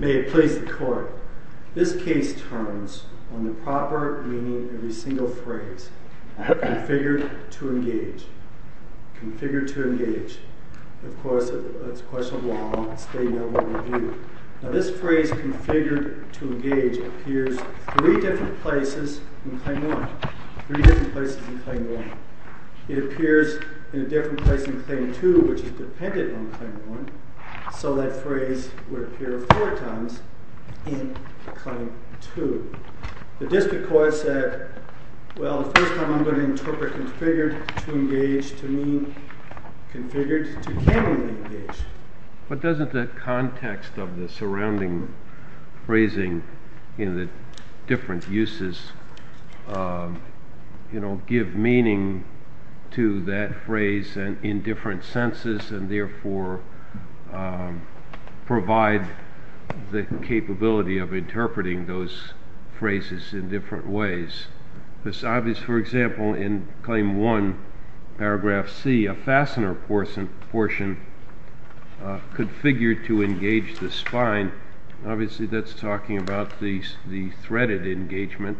May it please the Court, this case turns on the proper meaning of every single phrase, configured to engage, configured to engage, of course it's a question of law and state level review. Now this phrase, configured to engage, appears three different places in Claim 1, three different places in Claim 1. It appears in a different place in Claim 2, which is dependent on Claim 1, so that phrase would appear four times in Claim 2. The district court said, well the first time I'm going to interpret configured to engage to mean configured to cannot engage. But doesn't the context of the surrounding phrasing in the different uses give meaning to that phrase in different senses and therefore provide the capability of interpreting those phrases in different ways. For example, in Claim 1, paragraph C, a fastener portion configured to engage the spine, obviously that's talking about the threaded engagement,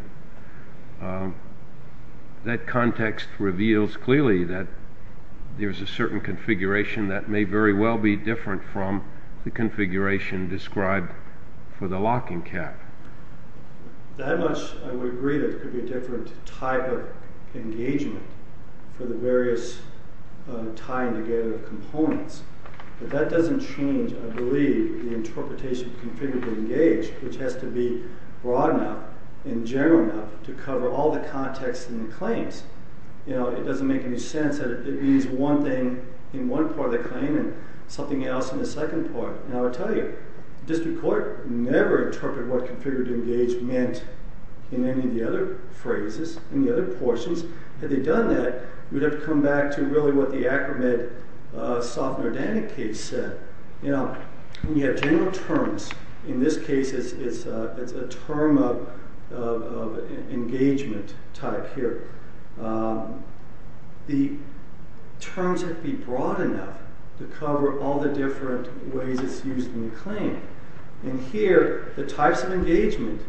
that context reveals clearly that there's a certain configuration that may very well be different from the configuration described for the locking cap. That much I would agree that there could be a different type of engagement for the various tying together of components. But that doesn't change, I believe, the interpretation of configured to engage, which has to be broad enough and general enough to cover all the contexts in the claims. It doesn't make any sense that it means one thing in one part of the claim and something else in the second part. And I will tell you, the district court never interpreted what configured to engage meant in any of the other phrases, in the other portions. Had they done that, we'd have to come back to really what the Acromed-Softner-Danik case said. When you have general terms, in this case it's a term of engagement type here. The terms have to be broad enough to cover all the different ways it's used in the claim. And here, the types of engagement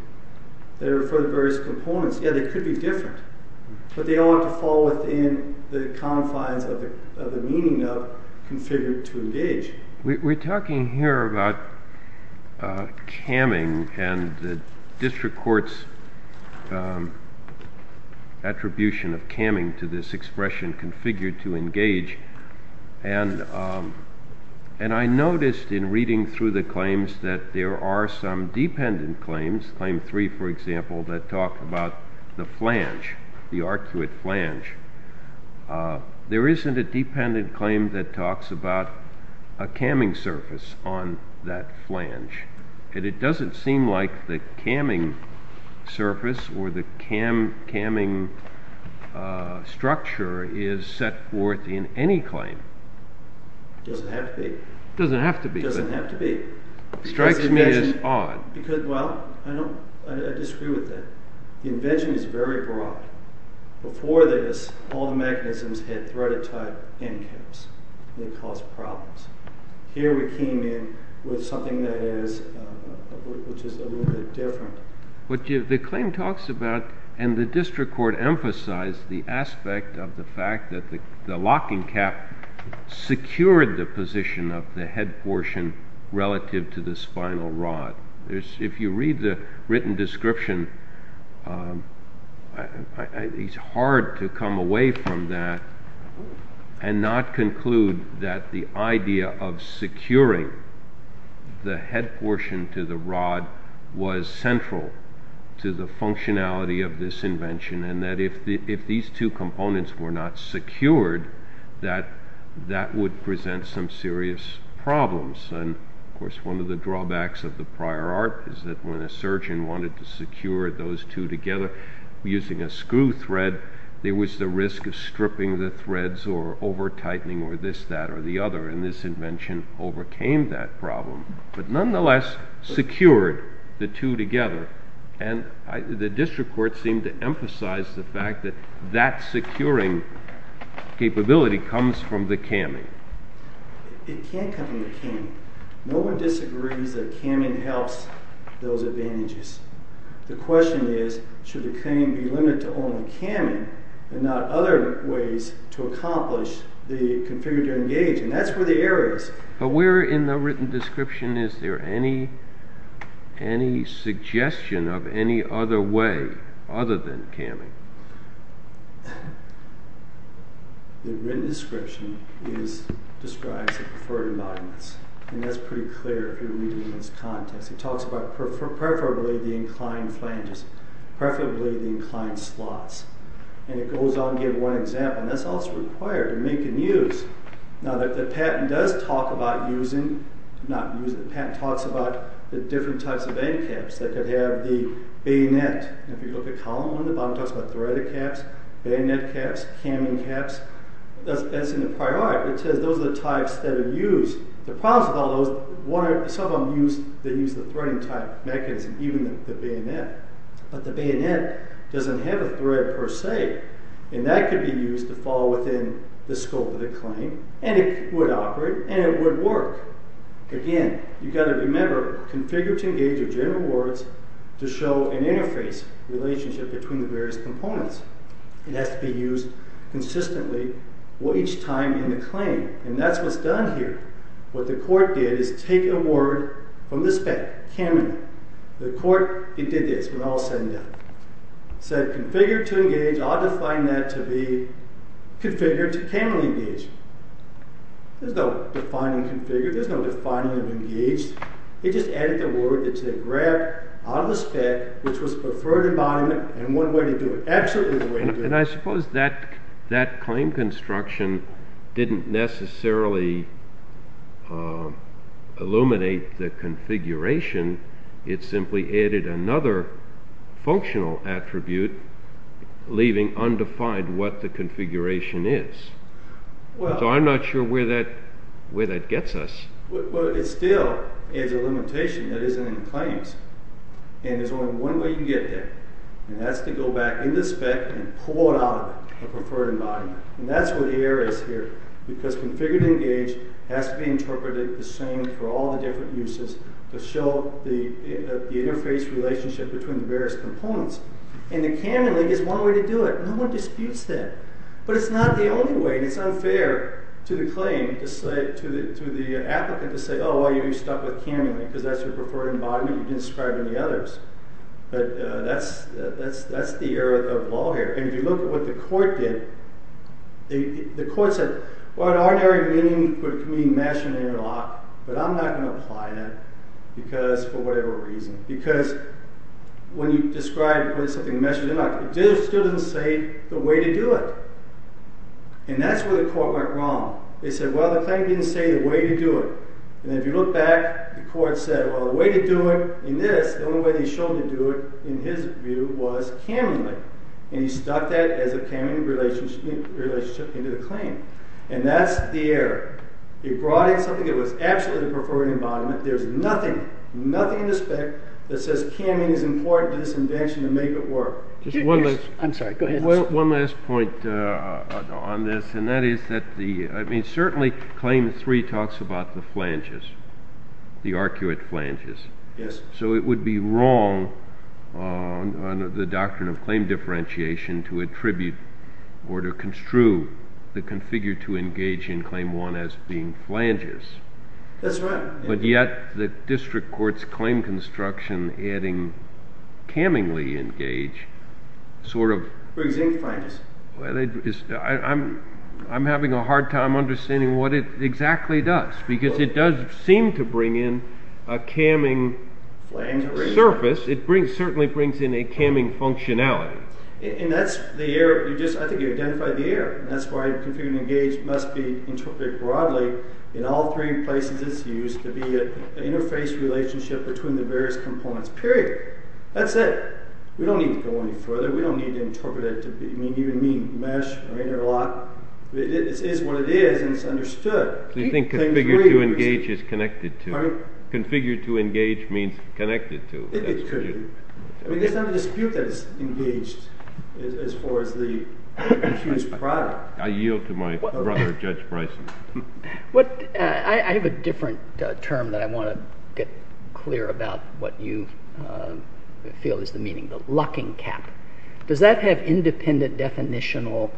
that are for the various components, yeah, they could be different. But they all have to fall within the confines of the meaning of configured to engage. We're talking here about camming and the district court's attribution of camming to this expression, configured to engage. And I noticed in reading through the claims that there are some dependent claims, claim three for example, that talk about the flange, the arcuate flange. There isn't a dependent claim that talks about a camming surface on that flange. And it doesn't seem like the camming surface or the camming structure is set forth in any claim. It doesn't have to be. It doesn't have to be. It doesn't have to be. It strikes me as odd. Well, I disagree with that. The invention is very broad. Before this, all the mechanisms had threaded type end caps. They caused problems. Here we came in with something that is just a little bit different. The claim talks about, and the district court emphasized the aspect of the fact that the locking cap secured the position of the head portion relative to the spinal rod. If you read the written description, it's hard to come away from that and not conclude that the idea of securing the head portion to the rod was central to the functionality of this invention. And that if these two components were not secured, that that would present some serious problems. And, of course, one of the drawbacks of the prior art is that when a surgeon wanted to secure those two together using a screw thread, there was the risk of stripping the threads or over-tightening or this, that, or the other. And this invention overcame that problem, but nonetheless secured the two together. And the district court seemed to emphasize the fact that that securing capability comes from the camming. It can't come from the camming. No one disagrees that camming helps those advantages. The question is, should the camming be limited to only camming and not other ways to accomplish the configure-to-engage? And that's where the error is. But where in the written description is there any, any suggestion of any other way other than camming? The written description is, describes the preferred embodiments. And that's pretty clear if you read it in this context. It talks about preferably the inclined flanges, preferably the inclined slots. And it goes on to give one example, and that's also required to make and use. Now the patent does talk about using, not using, the patent talks about the different types of end caps that could have the bayonet. And if you look at column one, the bottom talks about threaded caps, bayonet caps, camming caps. As in the prior art, it says those are the types that are used. The problems with all those, some of them use, they use the threading type mechanism, even the bayonet. But the bayonet doesn't have a thread per se, and that could be used to fall within the scope of the claim. And it would operate, and it would work. Again, you've got to remember, configure to engage are general words to show an interface relationship between the various components. It has to be used consistently each time in the claim, and that's what's done here. What the court did is take a word from the spec, camming. The court, it did this, and I'll send it down. It said configure to engage, I'll define that to be configure to camming engage. There's no defining configure, there's no defining engage. It just added the word, it said grab out of the spec, which was preferred embodiment, and one way to do it, absolutely the way to do it. And I suppose that claim construction didn't necessarily illuminate the configuration. It simply added another functional attribute, leaving undefined what the configuration is. So I'm not sure where that gets us. It still is a limitation that isn't in the claims, and there's only one way you can get there, and that's to go back in the spec and pull it out of the preferred embodiment. And that's what the error is here, because configure to engage has to be interpreted the same for all the different uses to show the interface relationship between the various components. And the camming link is one way to do it. No one disputes that. But it's not the only way, and it's unfair to the claim, to the applicant, to say, oh, well, you're stuck with camming link, because that's your preferred embodiment, you didn't describe any others. But that's the error of the law here. And if you look at what the court did, the court said, well, in our area, meaning could mean mesh and interlock, but I'm not going to apply that, because, for whatever reason. Because when you describe something mesh and interlock, it still doesn't say the way to do it. And that's where the court went wrong. They said, well, the claim didn't say the way to do it. And if you look back, the court said, well, the way to do it in this, the only way they showed to do it, in his view, was camming link. And he stuck that as a camming relationship into the claim. And that's the error. He brought in something that was absolutely the preferred embodiment. There's nothing, nothing in the spec that says camming is important to this invention to make it work. I'm sorry. Go ahead. One last point on this, and that is that the, I mean, certainly Claim 3 talks about the flanges, the arcuate flanges. Yes. So it would be wrong on the doctrine of claim differentiation to attribute or to construe the configure to engage in Claim 1 as being flanges. That's right. But yet the district court's claim construction adding cammingly engage sort of… Brings in flanges. I'm having a hard time understanding what it exactly does. Because it does seem to bring in a camming surface. It certainly brings in a camming functionality. And that's the error. I think you identified the error. That's why configure to engage must be interpreted broadly in all three places it's used to be an interface relationship between the various components. Period. That's it. We don't need to go any further. We don't need to interpret it. I mean, you and me mesh or interlock. It is what it is, and it's understood. You think configure to engage is connected to? Configure to engage means connected to. It could. I mean, there's not a dispute that it's engaged as far as the huge product. I yield to my brother, Judge Bryson. I have a different term that I want to get clear about what you feel is the meaning. The locking cap. Does that have independent definitional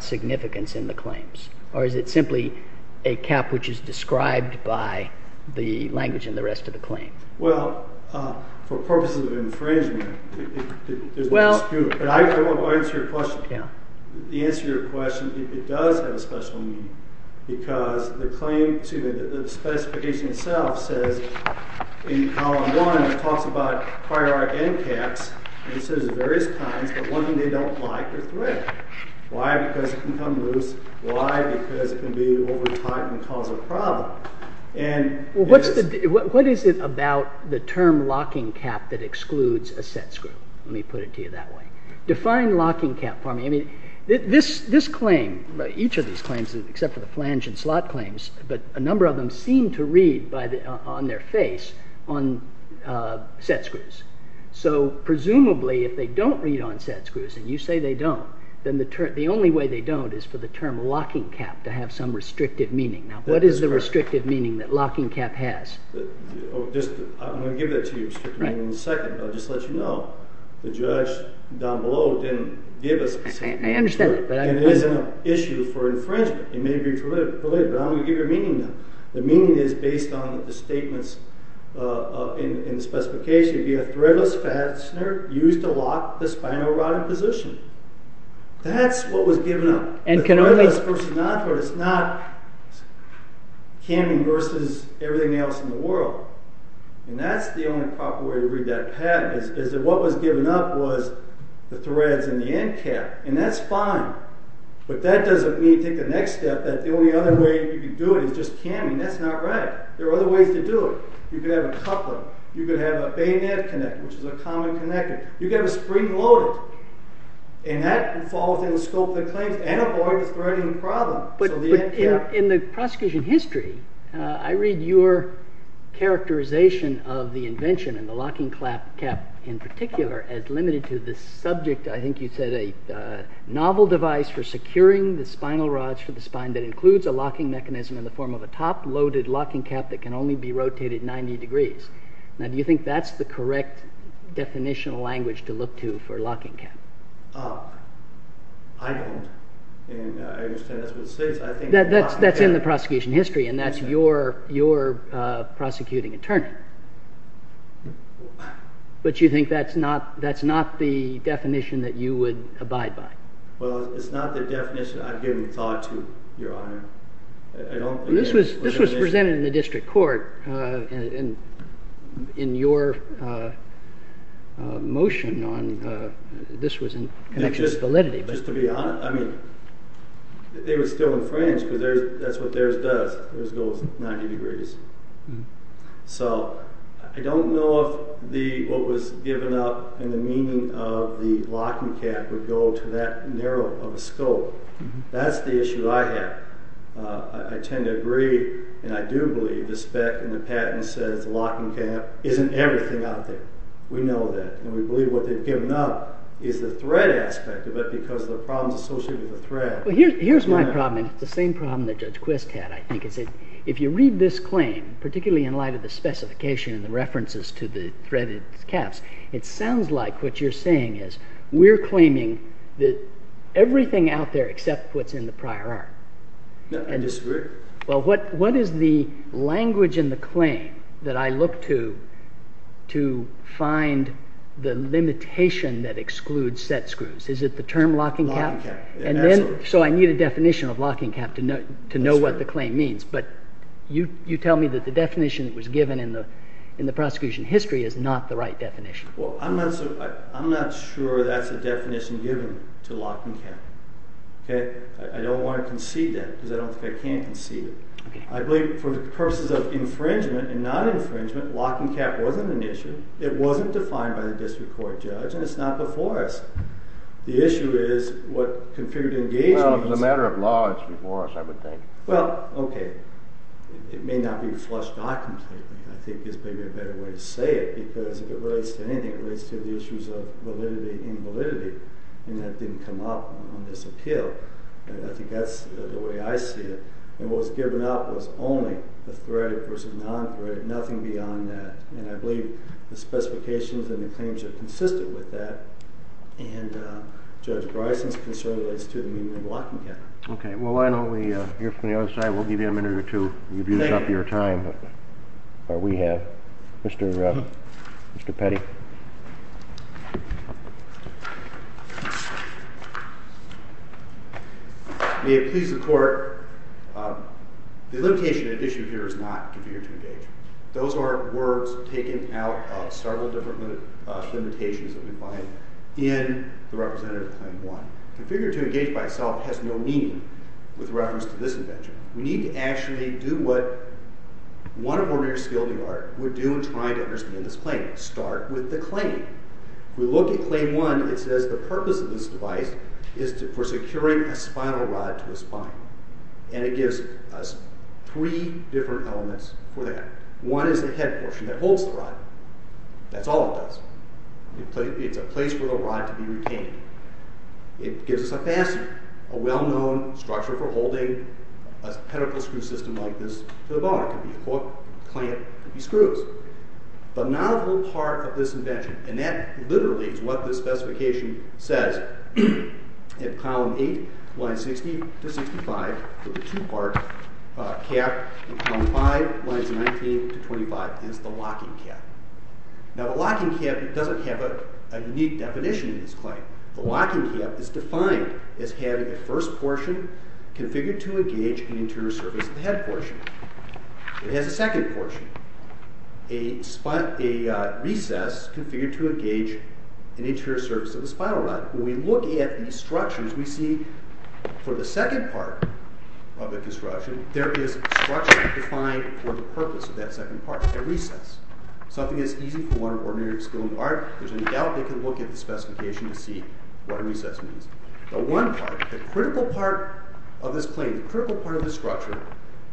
significance in the claims? Or is it simply a cap which is described by the language in the rest of the claim? Well, for purposes of infringement, there's no dispute. But I want to answer your question. The answer to your question is it does have a special meaning because the claim, excuse me, the specification itself says in column one it talks about prior and caps, and it says various kinds, but one they don't like or threat. Why? Because it can come loose. Why? Because it can be over-tight and cause a problem. What is it about the term locking cap that excludes a set screw? Let me put it to you that way. Define locking cap for me. This claim, each of these claims except for the flange and slot claims, but a number of them seem to read on their face on set screws. So presumably if they don't read on set screws, and you say they don't, then the only way they don't is for the term locking cap to have some restrictive meaning. Now, what is the restrictive meaning that locking cap has? I'm going to give that to you in a second, but I'll just let you know the judge down below didn't give us a specific term. I understand that. It isn't an issue for infringement. It may be related, but I'm going to give you a meaning now. The meaning is based on the statements in the specification. It would be a threadless fastener used to lock the spinal rod in position. That's what was given up. A threadless fastener is not camming versus everything else in the world, and that's the only proper way to read that pattern, is that what was given up was the threads and the end cap, and that's fine, but that doesn't mean, take the next step, that the only other way you could do it is just camming. That's not right. There are other ways to do it. You could have a coupler. You could have a bayonet connector, which is a common connector. You could have a spring loaded, and that would fall within the scope of the claims and avoid the threading problem. In the prosecution history, I read your characterization of the invention and the locking cap in particular as limited to the subject, I think you said, a novel device for securing the spinal rods for the spine that includes a locking mechanism in the form of a top loaded locking cap that can only be rotated 90 degrees. Do you think that's the correct definitional language to look to for a locking cap? I don't, and I understand that's what it says. That's in the prosecution history, and that's your prosecuting attorney. But you think that's not the definition that you would abide by? Well, it's not the definition I've given thought to, Your Honor. This was presented in the district court, and in your motion, this was in connection with validity. Just to be honest, they were still infringed because that's what theirs does. Theirs goes 90 degrees. So I don't know if what was given up in the meaning of the locking cap would go to that narrow of a scope. That's the issue I have. I tend to agree, and I do believe, the spec and the patent says the locking cap isn't everything out there. We know that, and we believe what they've given up is the threat aspect of it because of the problems associated with the threat. Here's my problem, and it's the same problem that Judge Quist had, I think. If you read this claim, particularly in light of the specification and the references to the threaded caps, it sounds like what you're saying is we're claiming that everything out there except what's in the prior art. I disagree. Well, what is the language in the claim that I look to to find the limitation that excludes set screws? Is it the term locking cap? Locking cap. So I need a definition of locking cap to know what the claim means, but you tell me that the definition that was given in the prosecution history is not the right definition. Well, I'm not sure that's a definition given to locking cap. I don't want to concede that because I don't think I can concede it. I believe for the purposes of infringement and not infringement, locking cap wasn't an issue. It wasn't defined by the district court judge, and it's not before us. The issue is what configured engagement is. Well, as a matter of law, it's before us, I would think. Well, okay. It may not be flushed out completely, I think, is maybe a better way to say it because if it relates to anything, it relates to the issues of validity and validity, and that didn't come up on this appeal. I think that's the way I see it. And what was given out was only the threaded versus non-threaded, nothing beyond that. And I believe the specifications and the claims are consistent with that, and Judge Bryson's concern relates to the meaning of locking cap. Okay. Well, why don't we hear from the other side? We'll give you a minute or two. You've used up your time. Or we have. Mr. Petty. May it please the Court, the limitation at issue here is not configured to engage. Those are words taken out of several different limitations that we find in the representative claim one. Configured to engage by itself has no meaning with reference to this invention. We need to actually do what one ordinary skilled lawyer would do in trying to understand this claim. Start with the claim. We look at claim one. It says the purpose of this device is for securing a spinal rod to a spine, and it gives us three different elements for that. One is the head portion that holds the rod. That's all it does. It's a place for the rod to be retained. It gives us a facet, a well-known structure for holding a pedicle screw system like this to the bone. It could be a hook, a clamp, it could be screws. But not a whole part of this invention, and that literally is what this specification says in Column 8, Lines 60 to 65, with the two-part cap in Column 5, Lines 19 to 25, is the locking cap. Now the locking cap doesn't have a unique definition in this claim. The locking cap is defined as having a first portion configured to engage an interior surface of the head portion. It has a second portion, a recess configured to engage an interior surface of the spinal rod. When we look at these structures, we see for the second part of the construction, there is structure defined for the purpose of that second part, a recess. Something that's easy for one of our ordinary skilled art. There's no doubt they can look at the specification to see what a recess means. The one part, the critical part of this claim, the critical part of this structure,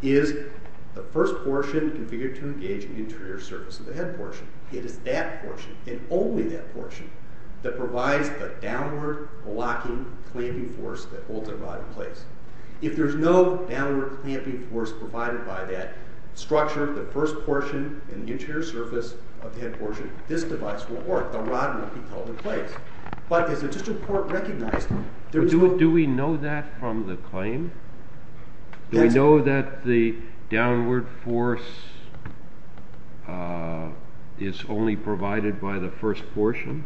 is the first portion configured to engage an interior surface of the head portion. It is that portion, and only that portion, that provides the downward locking clamping force that holds our body in place. If there's no downward clamping force provided by that structure, the first portion in the interior surface of the head portion, this device will work. The rod will be held in place. But is it just a part recognized? Do we know that from the claim? Do we know that the downward force is only provided by the first portion?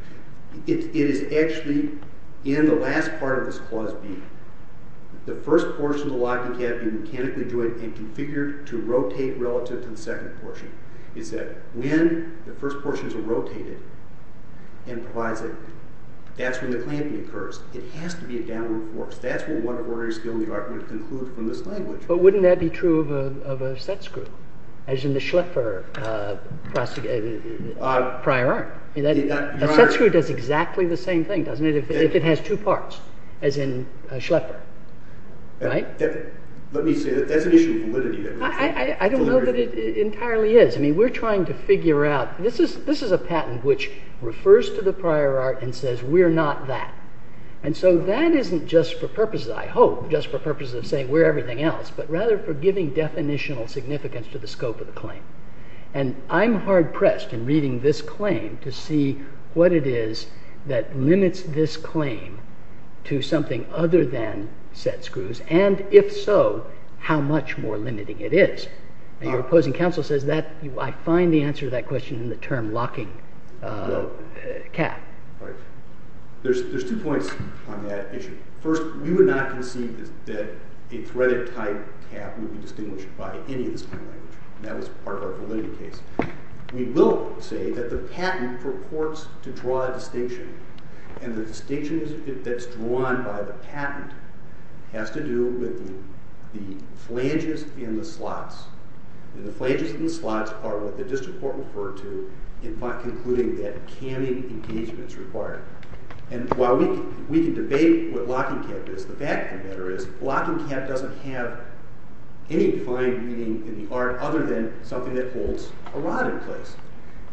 It is actually in the last part of this Clause B. It's that when the first portion is rotated, that's when the clamping occurs. It has to be a downward force. That's what one ordinary skilled art would conclude from this language. But wouldn't that be true of a set screw, as in the Schleffer prior art? A set screw does exactly the same thing, doesn't it, if it has two parts, as in Schleffer. Let me say, that's an issue of validity. I don't know that it entirely is. We're trying to figure out. This is a patent which refers to the prior art and says, we're not that. That isn't just for purposes, I hope, just for purposes of saying we're everything else, but rather for giving definitional significance to the scope of the claim. I'm hard-pressed in reading this claim to see what it is that limits this claim to something other than set screws, and if so, how much more limiting it is. And your opposing counsel says, I find the answer to that question in the term locking cap. There's two points on that issue. First, we would not concede that a threaded-type cap would be distinguished by any of this kind of language. That was part of our validity case. We will say that the patent purports to draw a distinction, and the distinction that's drawn by the patent has to do with the flanges in the slots. The flanges in the slots are what the district court referred to in concluding that camming engagement is required. And while we can debate what locking cap is, the fact of the matter is locking cap doesn't have any defined meaning in the art other than something that holds a rod in place.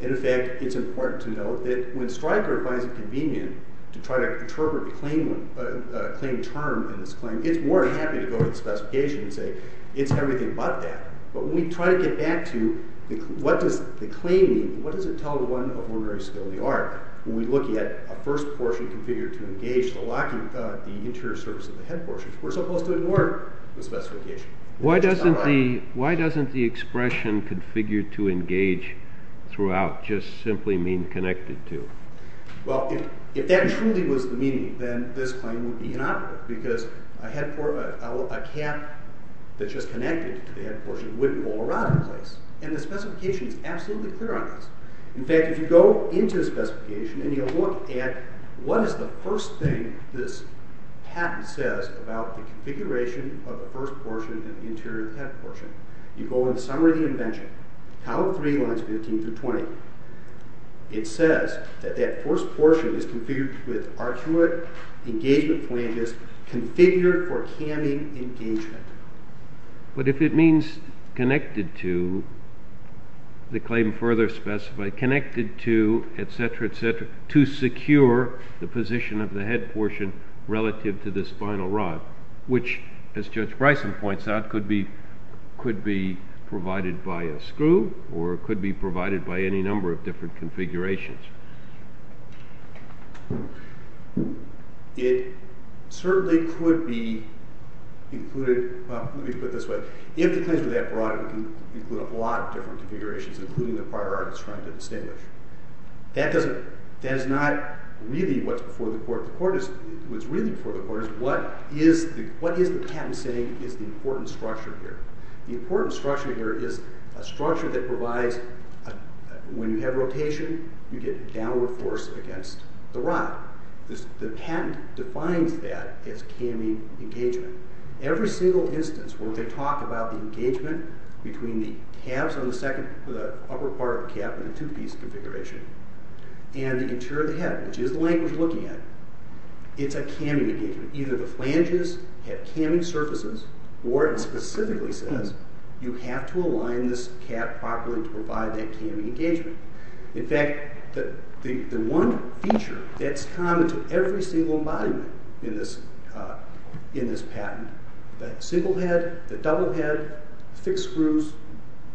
And in fact, it's important to note that when Stryker finds it convenient to try to interpret the claim term in this claim, it's more than happy to go to the specification and say, it's everything but that. But when we try to get back to what does the claim mean, what does it tell the one of ordinary civility art, when we look at a first portion configured to engage the locking, the interior surface of the head portion, we're supposed to ignore the specification. Why doesn't the expression configured to engage throughout just simply mean connected to? Well, if that truly was the meaning, then this claim would be inoperative because a cap that's just connected to the head portion wouldn't hold a rod in place. And the specification is absolutely clear on this. In fact, if you go into the specification and you look at what is the first thing this cap says about the configuration of the first portion and the interior of the head portion, you go in the summary of the invention, column 3, lines 15 through 20, it says that that first portion is configured with arcuate engagement flanges configured for canning engagement. But if it means connected to, the claim further specified, connected to, etc., etc., to secure the position of the head portion relative to the spinal rod, which, as Judge Bryson points out, could be provided by a screw or it could be provided by any number of different configurations. It certainly could be included, well, let me put it this way. If the claims were that broad, it would include a lot of different configurations, including the prior art it's trying to distinguish. That is not really what's before the court. What's really before the court is what is the patent saying is the important structure here. The important structure here is a structure that provides, when you have rotation, you get downward force against the rod. The patent defines that as canning engagement. Every single instance where they talk about the engagement between the calves on the upper part of the calf in the two-piece configuration and the interior of the head, which is the language we're looking at, it's a canning engagement. Either the flanges have canning surfaces or it specifically says you have to align this calf properly to provide that canning engagement. In fact, the one feature that's common to every single embodiment in this patent, the single head, the double head, fixed screws,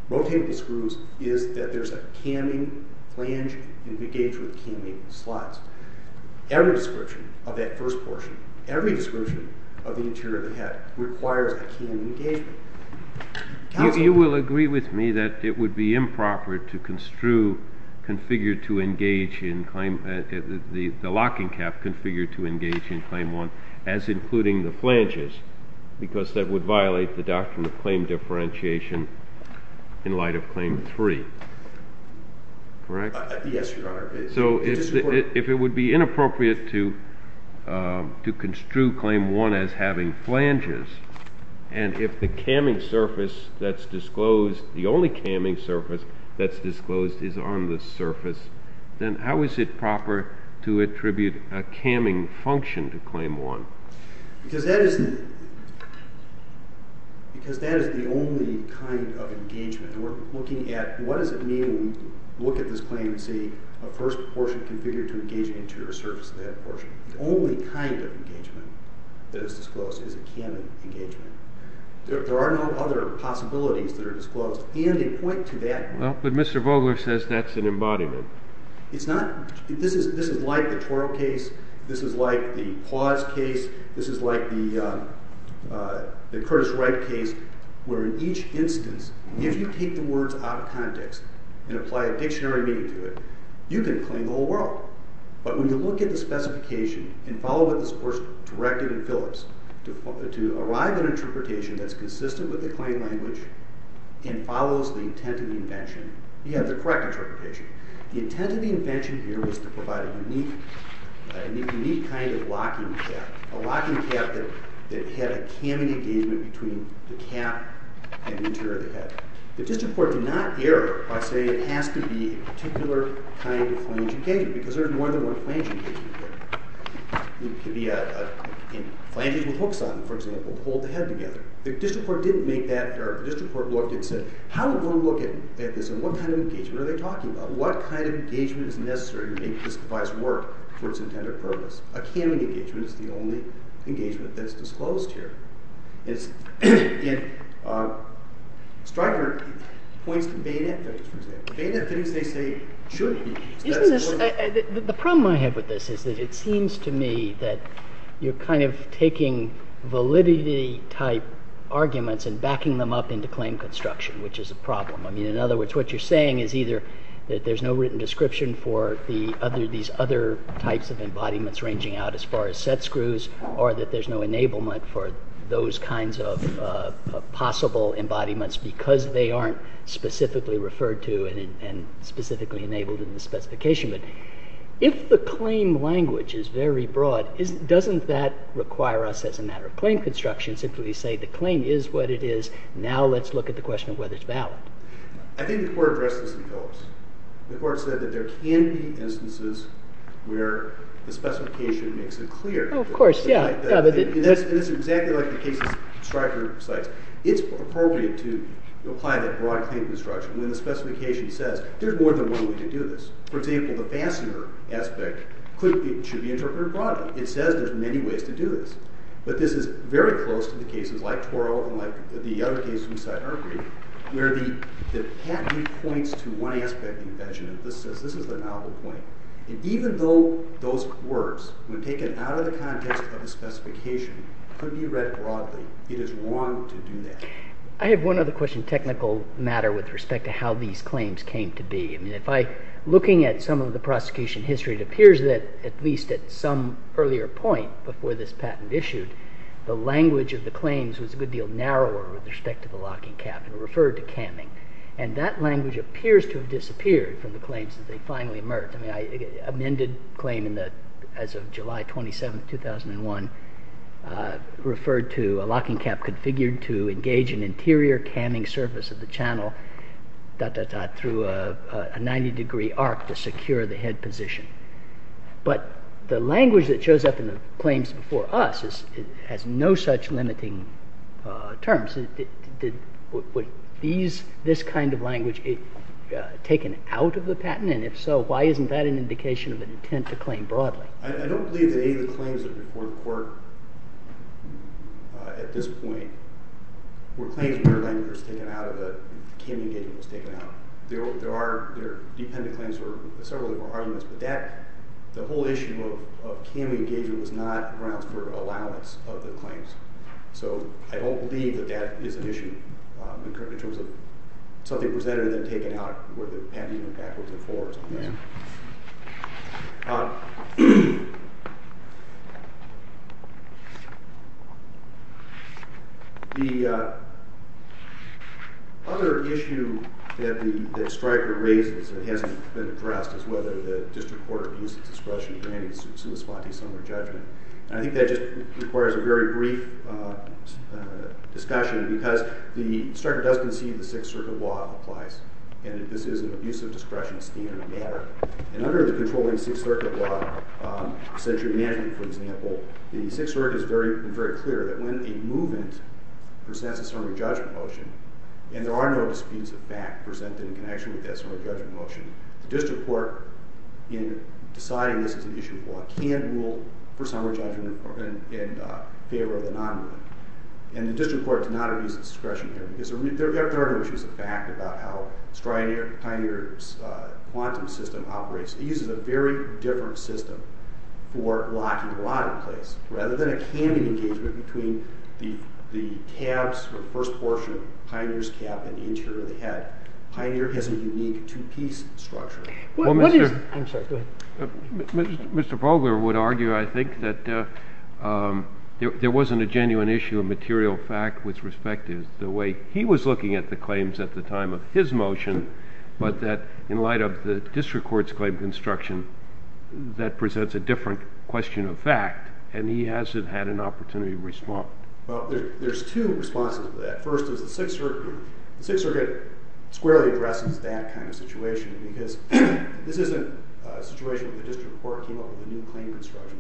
rotatable screws, is that there's a canning flange engaged with canning slots. Every description of that first portion, every description of the interior of the head requires a canning engagement. You will agree with me that it would be improper to construe configured to engage in claim the locking calf configured to engage in claim one as including the flanges because that would violate the doctrine of claim differentiation in light of claim three. Correct? Yes, Your Honor. So if it would be inappropriate to construe claim one as having flanges and if the canning surface that's disclosed, the only canning surface that's disclosed is on the surface, then how is it proper to attribute a canning function to claim one? Because that is the only kind of engagement. We're looking at what does it mean when we look at this claim and see a first portion configured to engage an interior surface of the head portion. The only kind of engagement that is disclosed is a canning engagement. There are no other possibilities that are disclosed and in point to that point. Well, but Mr. Vogler says that's an embodiment. It's not. This is like the Torrell case. This is like the Paz case. This is like the Curtis Wright case where in each instance, if you take the words out of context and apply a dictionary meaning to it, you can claim the whole world. But when you look at the specification and follow what this course directed in Phillips to arrive at an interpretation that's consistent with the claim language and follows the intent of the invention, you have the correct interpretation. The intent of the invention here was to provide a unique kind of locking cap, a locking cap that had a canning engagement between the cap and the interior of the head. The district court did not err by saying it has to be a particular kind of flange engagement because there's more than one flange engagement here. It could be a flange with hooks on it, for example, to hold the head together. The district court didn't make that error. The district court looked and said, how are we going to look at this and what kind of engagement are they talking about? What kind of engagement is necessary to make this device work for its intended purpose? A canning engagement is the only engagement that's disclosed here. Striker points to beta things, for example. Beta things they say should be disclosed. The problem I have with this is that it seems to me that you're kind of taking validity-type arguments and backing them up into claim construction, which is a problem. In other words, what you're saying is either that there's no written description for these other types of embodiments ranging out as far as set screws or that there's no enablement for those kinds of possible embodiments because they aren't specifically referred to and specifically enabled in the specification. But if the claim language is very broad, doesn't that require us, as a matter of claim construction, simply say the claim is what it is, now let's look at the question of whether it's valid? I think the court addressed this in pillars. The court said that there can be instances where the specification makes it clear. Oh, of course, yeah. And it's exactly like the cases Striker cites. It's appropriate to apply that broad claim construction when the specification says there's more than one way to do this. For example, the fastener aspect should be interpreted broadly. It says there's many ways to do this. But this is very close to the cases like Toro and like the other cases we cite in our brief where the patent points to one aspect of the invention. This is the novel point. And even though those words, when taken out of the context of the specification, could be read broadly, it is wrong to do that. I have one other question, technical matter, with respect to how these claims came to be. Looking at some of the prosecution history, it appears that, at least at some earlier point before this patent issued, the language of the claims was a good deal narrower with respect to the locking cap and referred to camming. And that language appears to have disappeared from the claims that they finally emerged. I mean, an amended claim as of July 27, 2001, referred to a locking cap configured to engage an interior camming surface of the channel through a 90-degree arc to secure the head position. But the language that shows up in the claims before us has no such limiting terms. Would this kind of language be taken out of the patent? And if so, why isn't that an indication of an intent to claim broadly? I don't believe that any of the claims that report the court at this point were claims where camming engagement was taken out. There are dependent claims for several different arguments, but the whole issue of camming engagement was not grounds for allowance of the claims. So I don't believe that that is an issue, in terms of something presented and then taken out, where the patent impact was enforced on that. The other issue that Stryker raises that hasn't been addressed is whether the district court abuses discretion in granting sui spati sum or judgment. And I think that just requires a very brief discussion, because Stryker does concede the Sixth Circuit law applies, and that this is an abusive discretion standard of matter. And under the controlling Sixth Circuit law, century management, for example, the Sixth Circuit has been very clear that when a movement presents a summary judgment motion, and there are no disputes of fact presented in connection with that summary judgment motion, the district court, in deciding this is an issue of law, can't rule for summary judgment in favor of the non-rule. And the district court did not abuse discretion here. There are no issues of fact about how Pioneer's quantum system operates. It uses a very different system for locking the rod in place. Rather than a camming engagement between the tabs for the first portion of Pioneer's cap and the interior of the head, Pioneer has a unique two-piece structure. Mr. Fogler would argue, I think, that there wasn't a genuine issue of material fact with respect to the way he was looking at the claims at the time of his motion, but that in light of the district court's claim construction, that presents a different question of fact, and he hasn't had an opportunity to respond. Well, there's two responses to that. First is the Sixth Circuit squarely addresses that kind of situation because this isn't a situation where the district court came up with a new claim construction.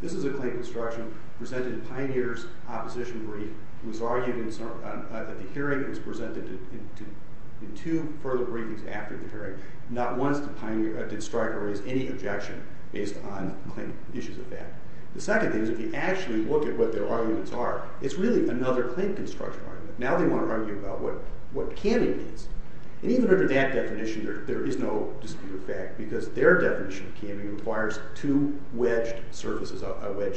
This is a claim construction presented in Pioneer's opposition brief. It was argued that the hearing was presented in two further briefings after the hearing. Not once did Pioneer strike or raise any objection based on claim issues of fact. The second thing is if you actually look at what their arguments are, it's really another claim construction argument. Now they want to argue about what camming is. And even under that definition, there is no dispute of fact because their definition of camming requires two wedged surfaces, a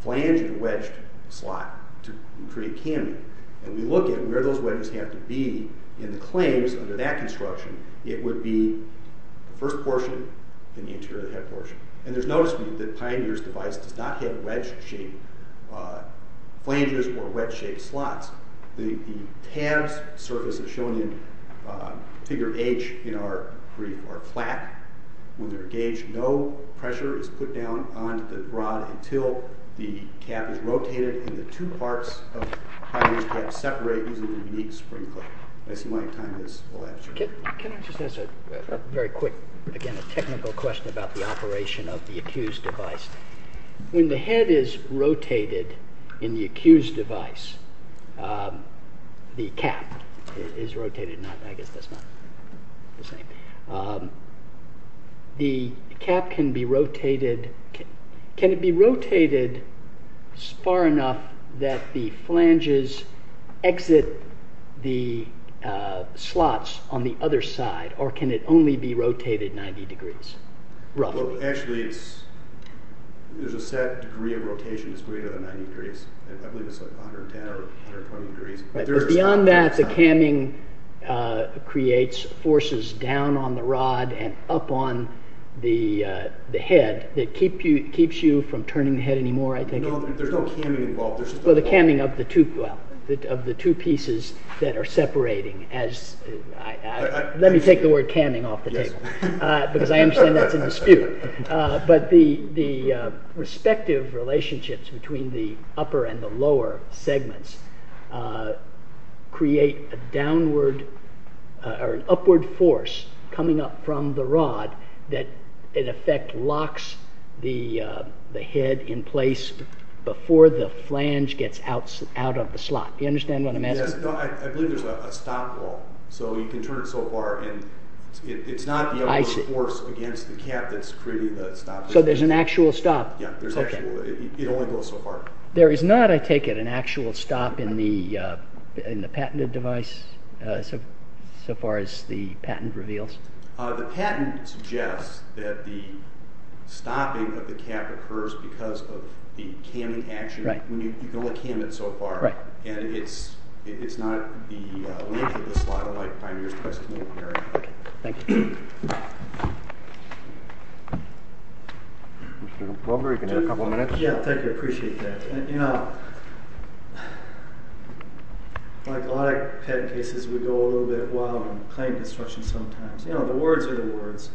flanged and a wedged slot to create camming. And we look at where those wedges have to be in the claims under that construction. It would be the first portion and the interior of the head portion. And there's notice from you that Pioneer's device does not have wedged-shaped flanges or wedged-shaped slots. The tabs surface is shown in figure H in our plaque. When they're engaged, no pressure is put down on the rod until the cap is rotated and the two parts of Pioneer's cap separate using a unique spring clip. I see my time has elapsed. Can I just ask a very quick, again, a technical question about the operation of the accused device? When the head is rotated in the accused device, the cap is rotated. I guess that's not the same. The cap can be rotated. Can it be rotated far enough that the flanges exit the slots on the other side, or can it only be rotated 90 degrees, roughly? Actually, there's a set degree of rotation that's greater than 90 degrees. I believe it's 110 or 120 degrees. Beyond that, the camming creates forces down on the rod and up on the head that keeps you from turning the head anymore, I think. No, there's no camming involved. Well, the camming of the two pieces that are separating. Let me take the word camming off the table because I understand that's a dispute. But the respective relationships between the upper and the lower segments create an upward force coming up from the rod that, in effect, locks the head in place before the flange gets out of the slot. Do you understand what I'm asking? Yes. I believe there's a stop wall, so you can turn it so far. It's not the upward force against the cap that's creating the stop. So there's an actual stop. It only goes so far. There is not, I take it, an actual stop in the patented device so far as the patent reveals? The patent suggests that the stopping of the cap occurs because of the camming action. You can only cam it so far, and it's not the length of the slot of my primary's testimony. Okay. Thank you. Mr. Wilbury, can you have a couple of minutes? Yeah. Thank you. I appreciate that. You know, like a lot of patent cases, we go a little bit wild on claim construction sometimes. You know, the words are the words.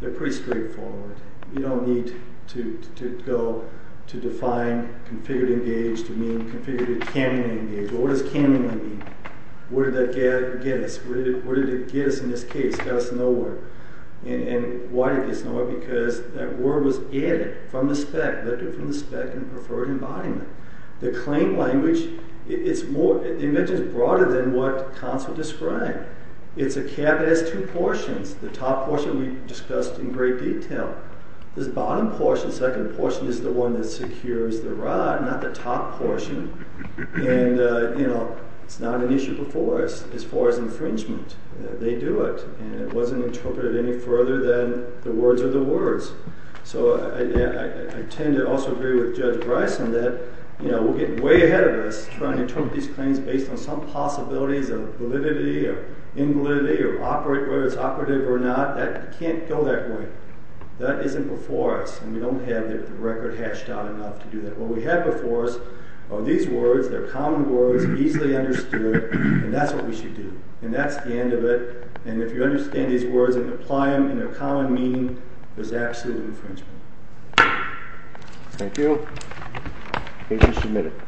They're pretty straightforward. You don't need to go to define configured-engaged to mean configured-camming-engaged. Well, what does cammingly mean? Where did that get us? Where did it get us in this case? It got us nowhere. And why did it get us nowhere? Because that word was added from the spec, vectored from the spec in preferred embodiment. The claim language, it's more... the invention is broader than what counsel described. It's a cap that has two portions. The top portion we discussed in great detail. This bottom portion, second portion, is the one that secures the rod, not the top portion. And, you know, it's not an issue before us as far as infringement. They do it, and it wasn't interpreted any further than the words are the words. So I tend to also agree with Judge Bryson that, you know, we're getting way ahead of us trying to interpret these claims based on some possibilities of validity or invalidity or whether it's operative or not. That can't go that way. That isn't before us, and we don't have the record hashed out enough to do that. What we have before us are these words. They're common words, easily understood, and that's what we should do. And that's the end of it. And if you understand these words and apply them in their common meaning, there's absolute infringement. Thank you. Agents, you may be dismissed.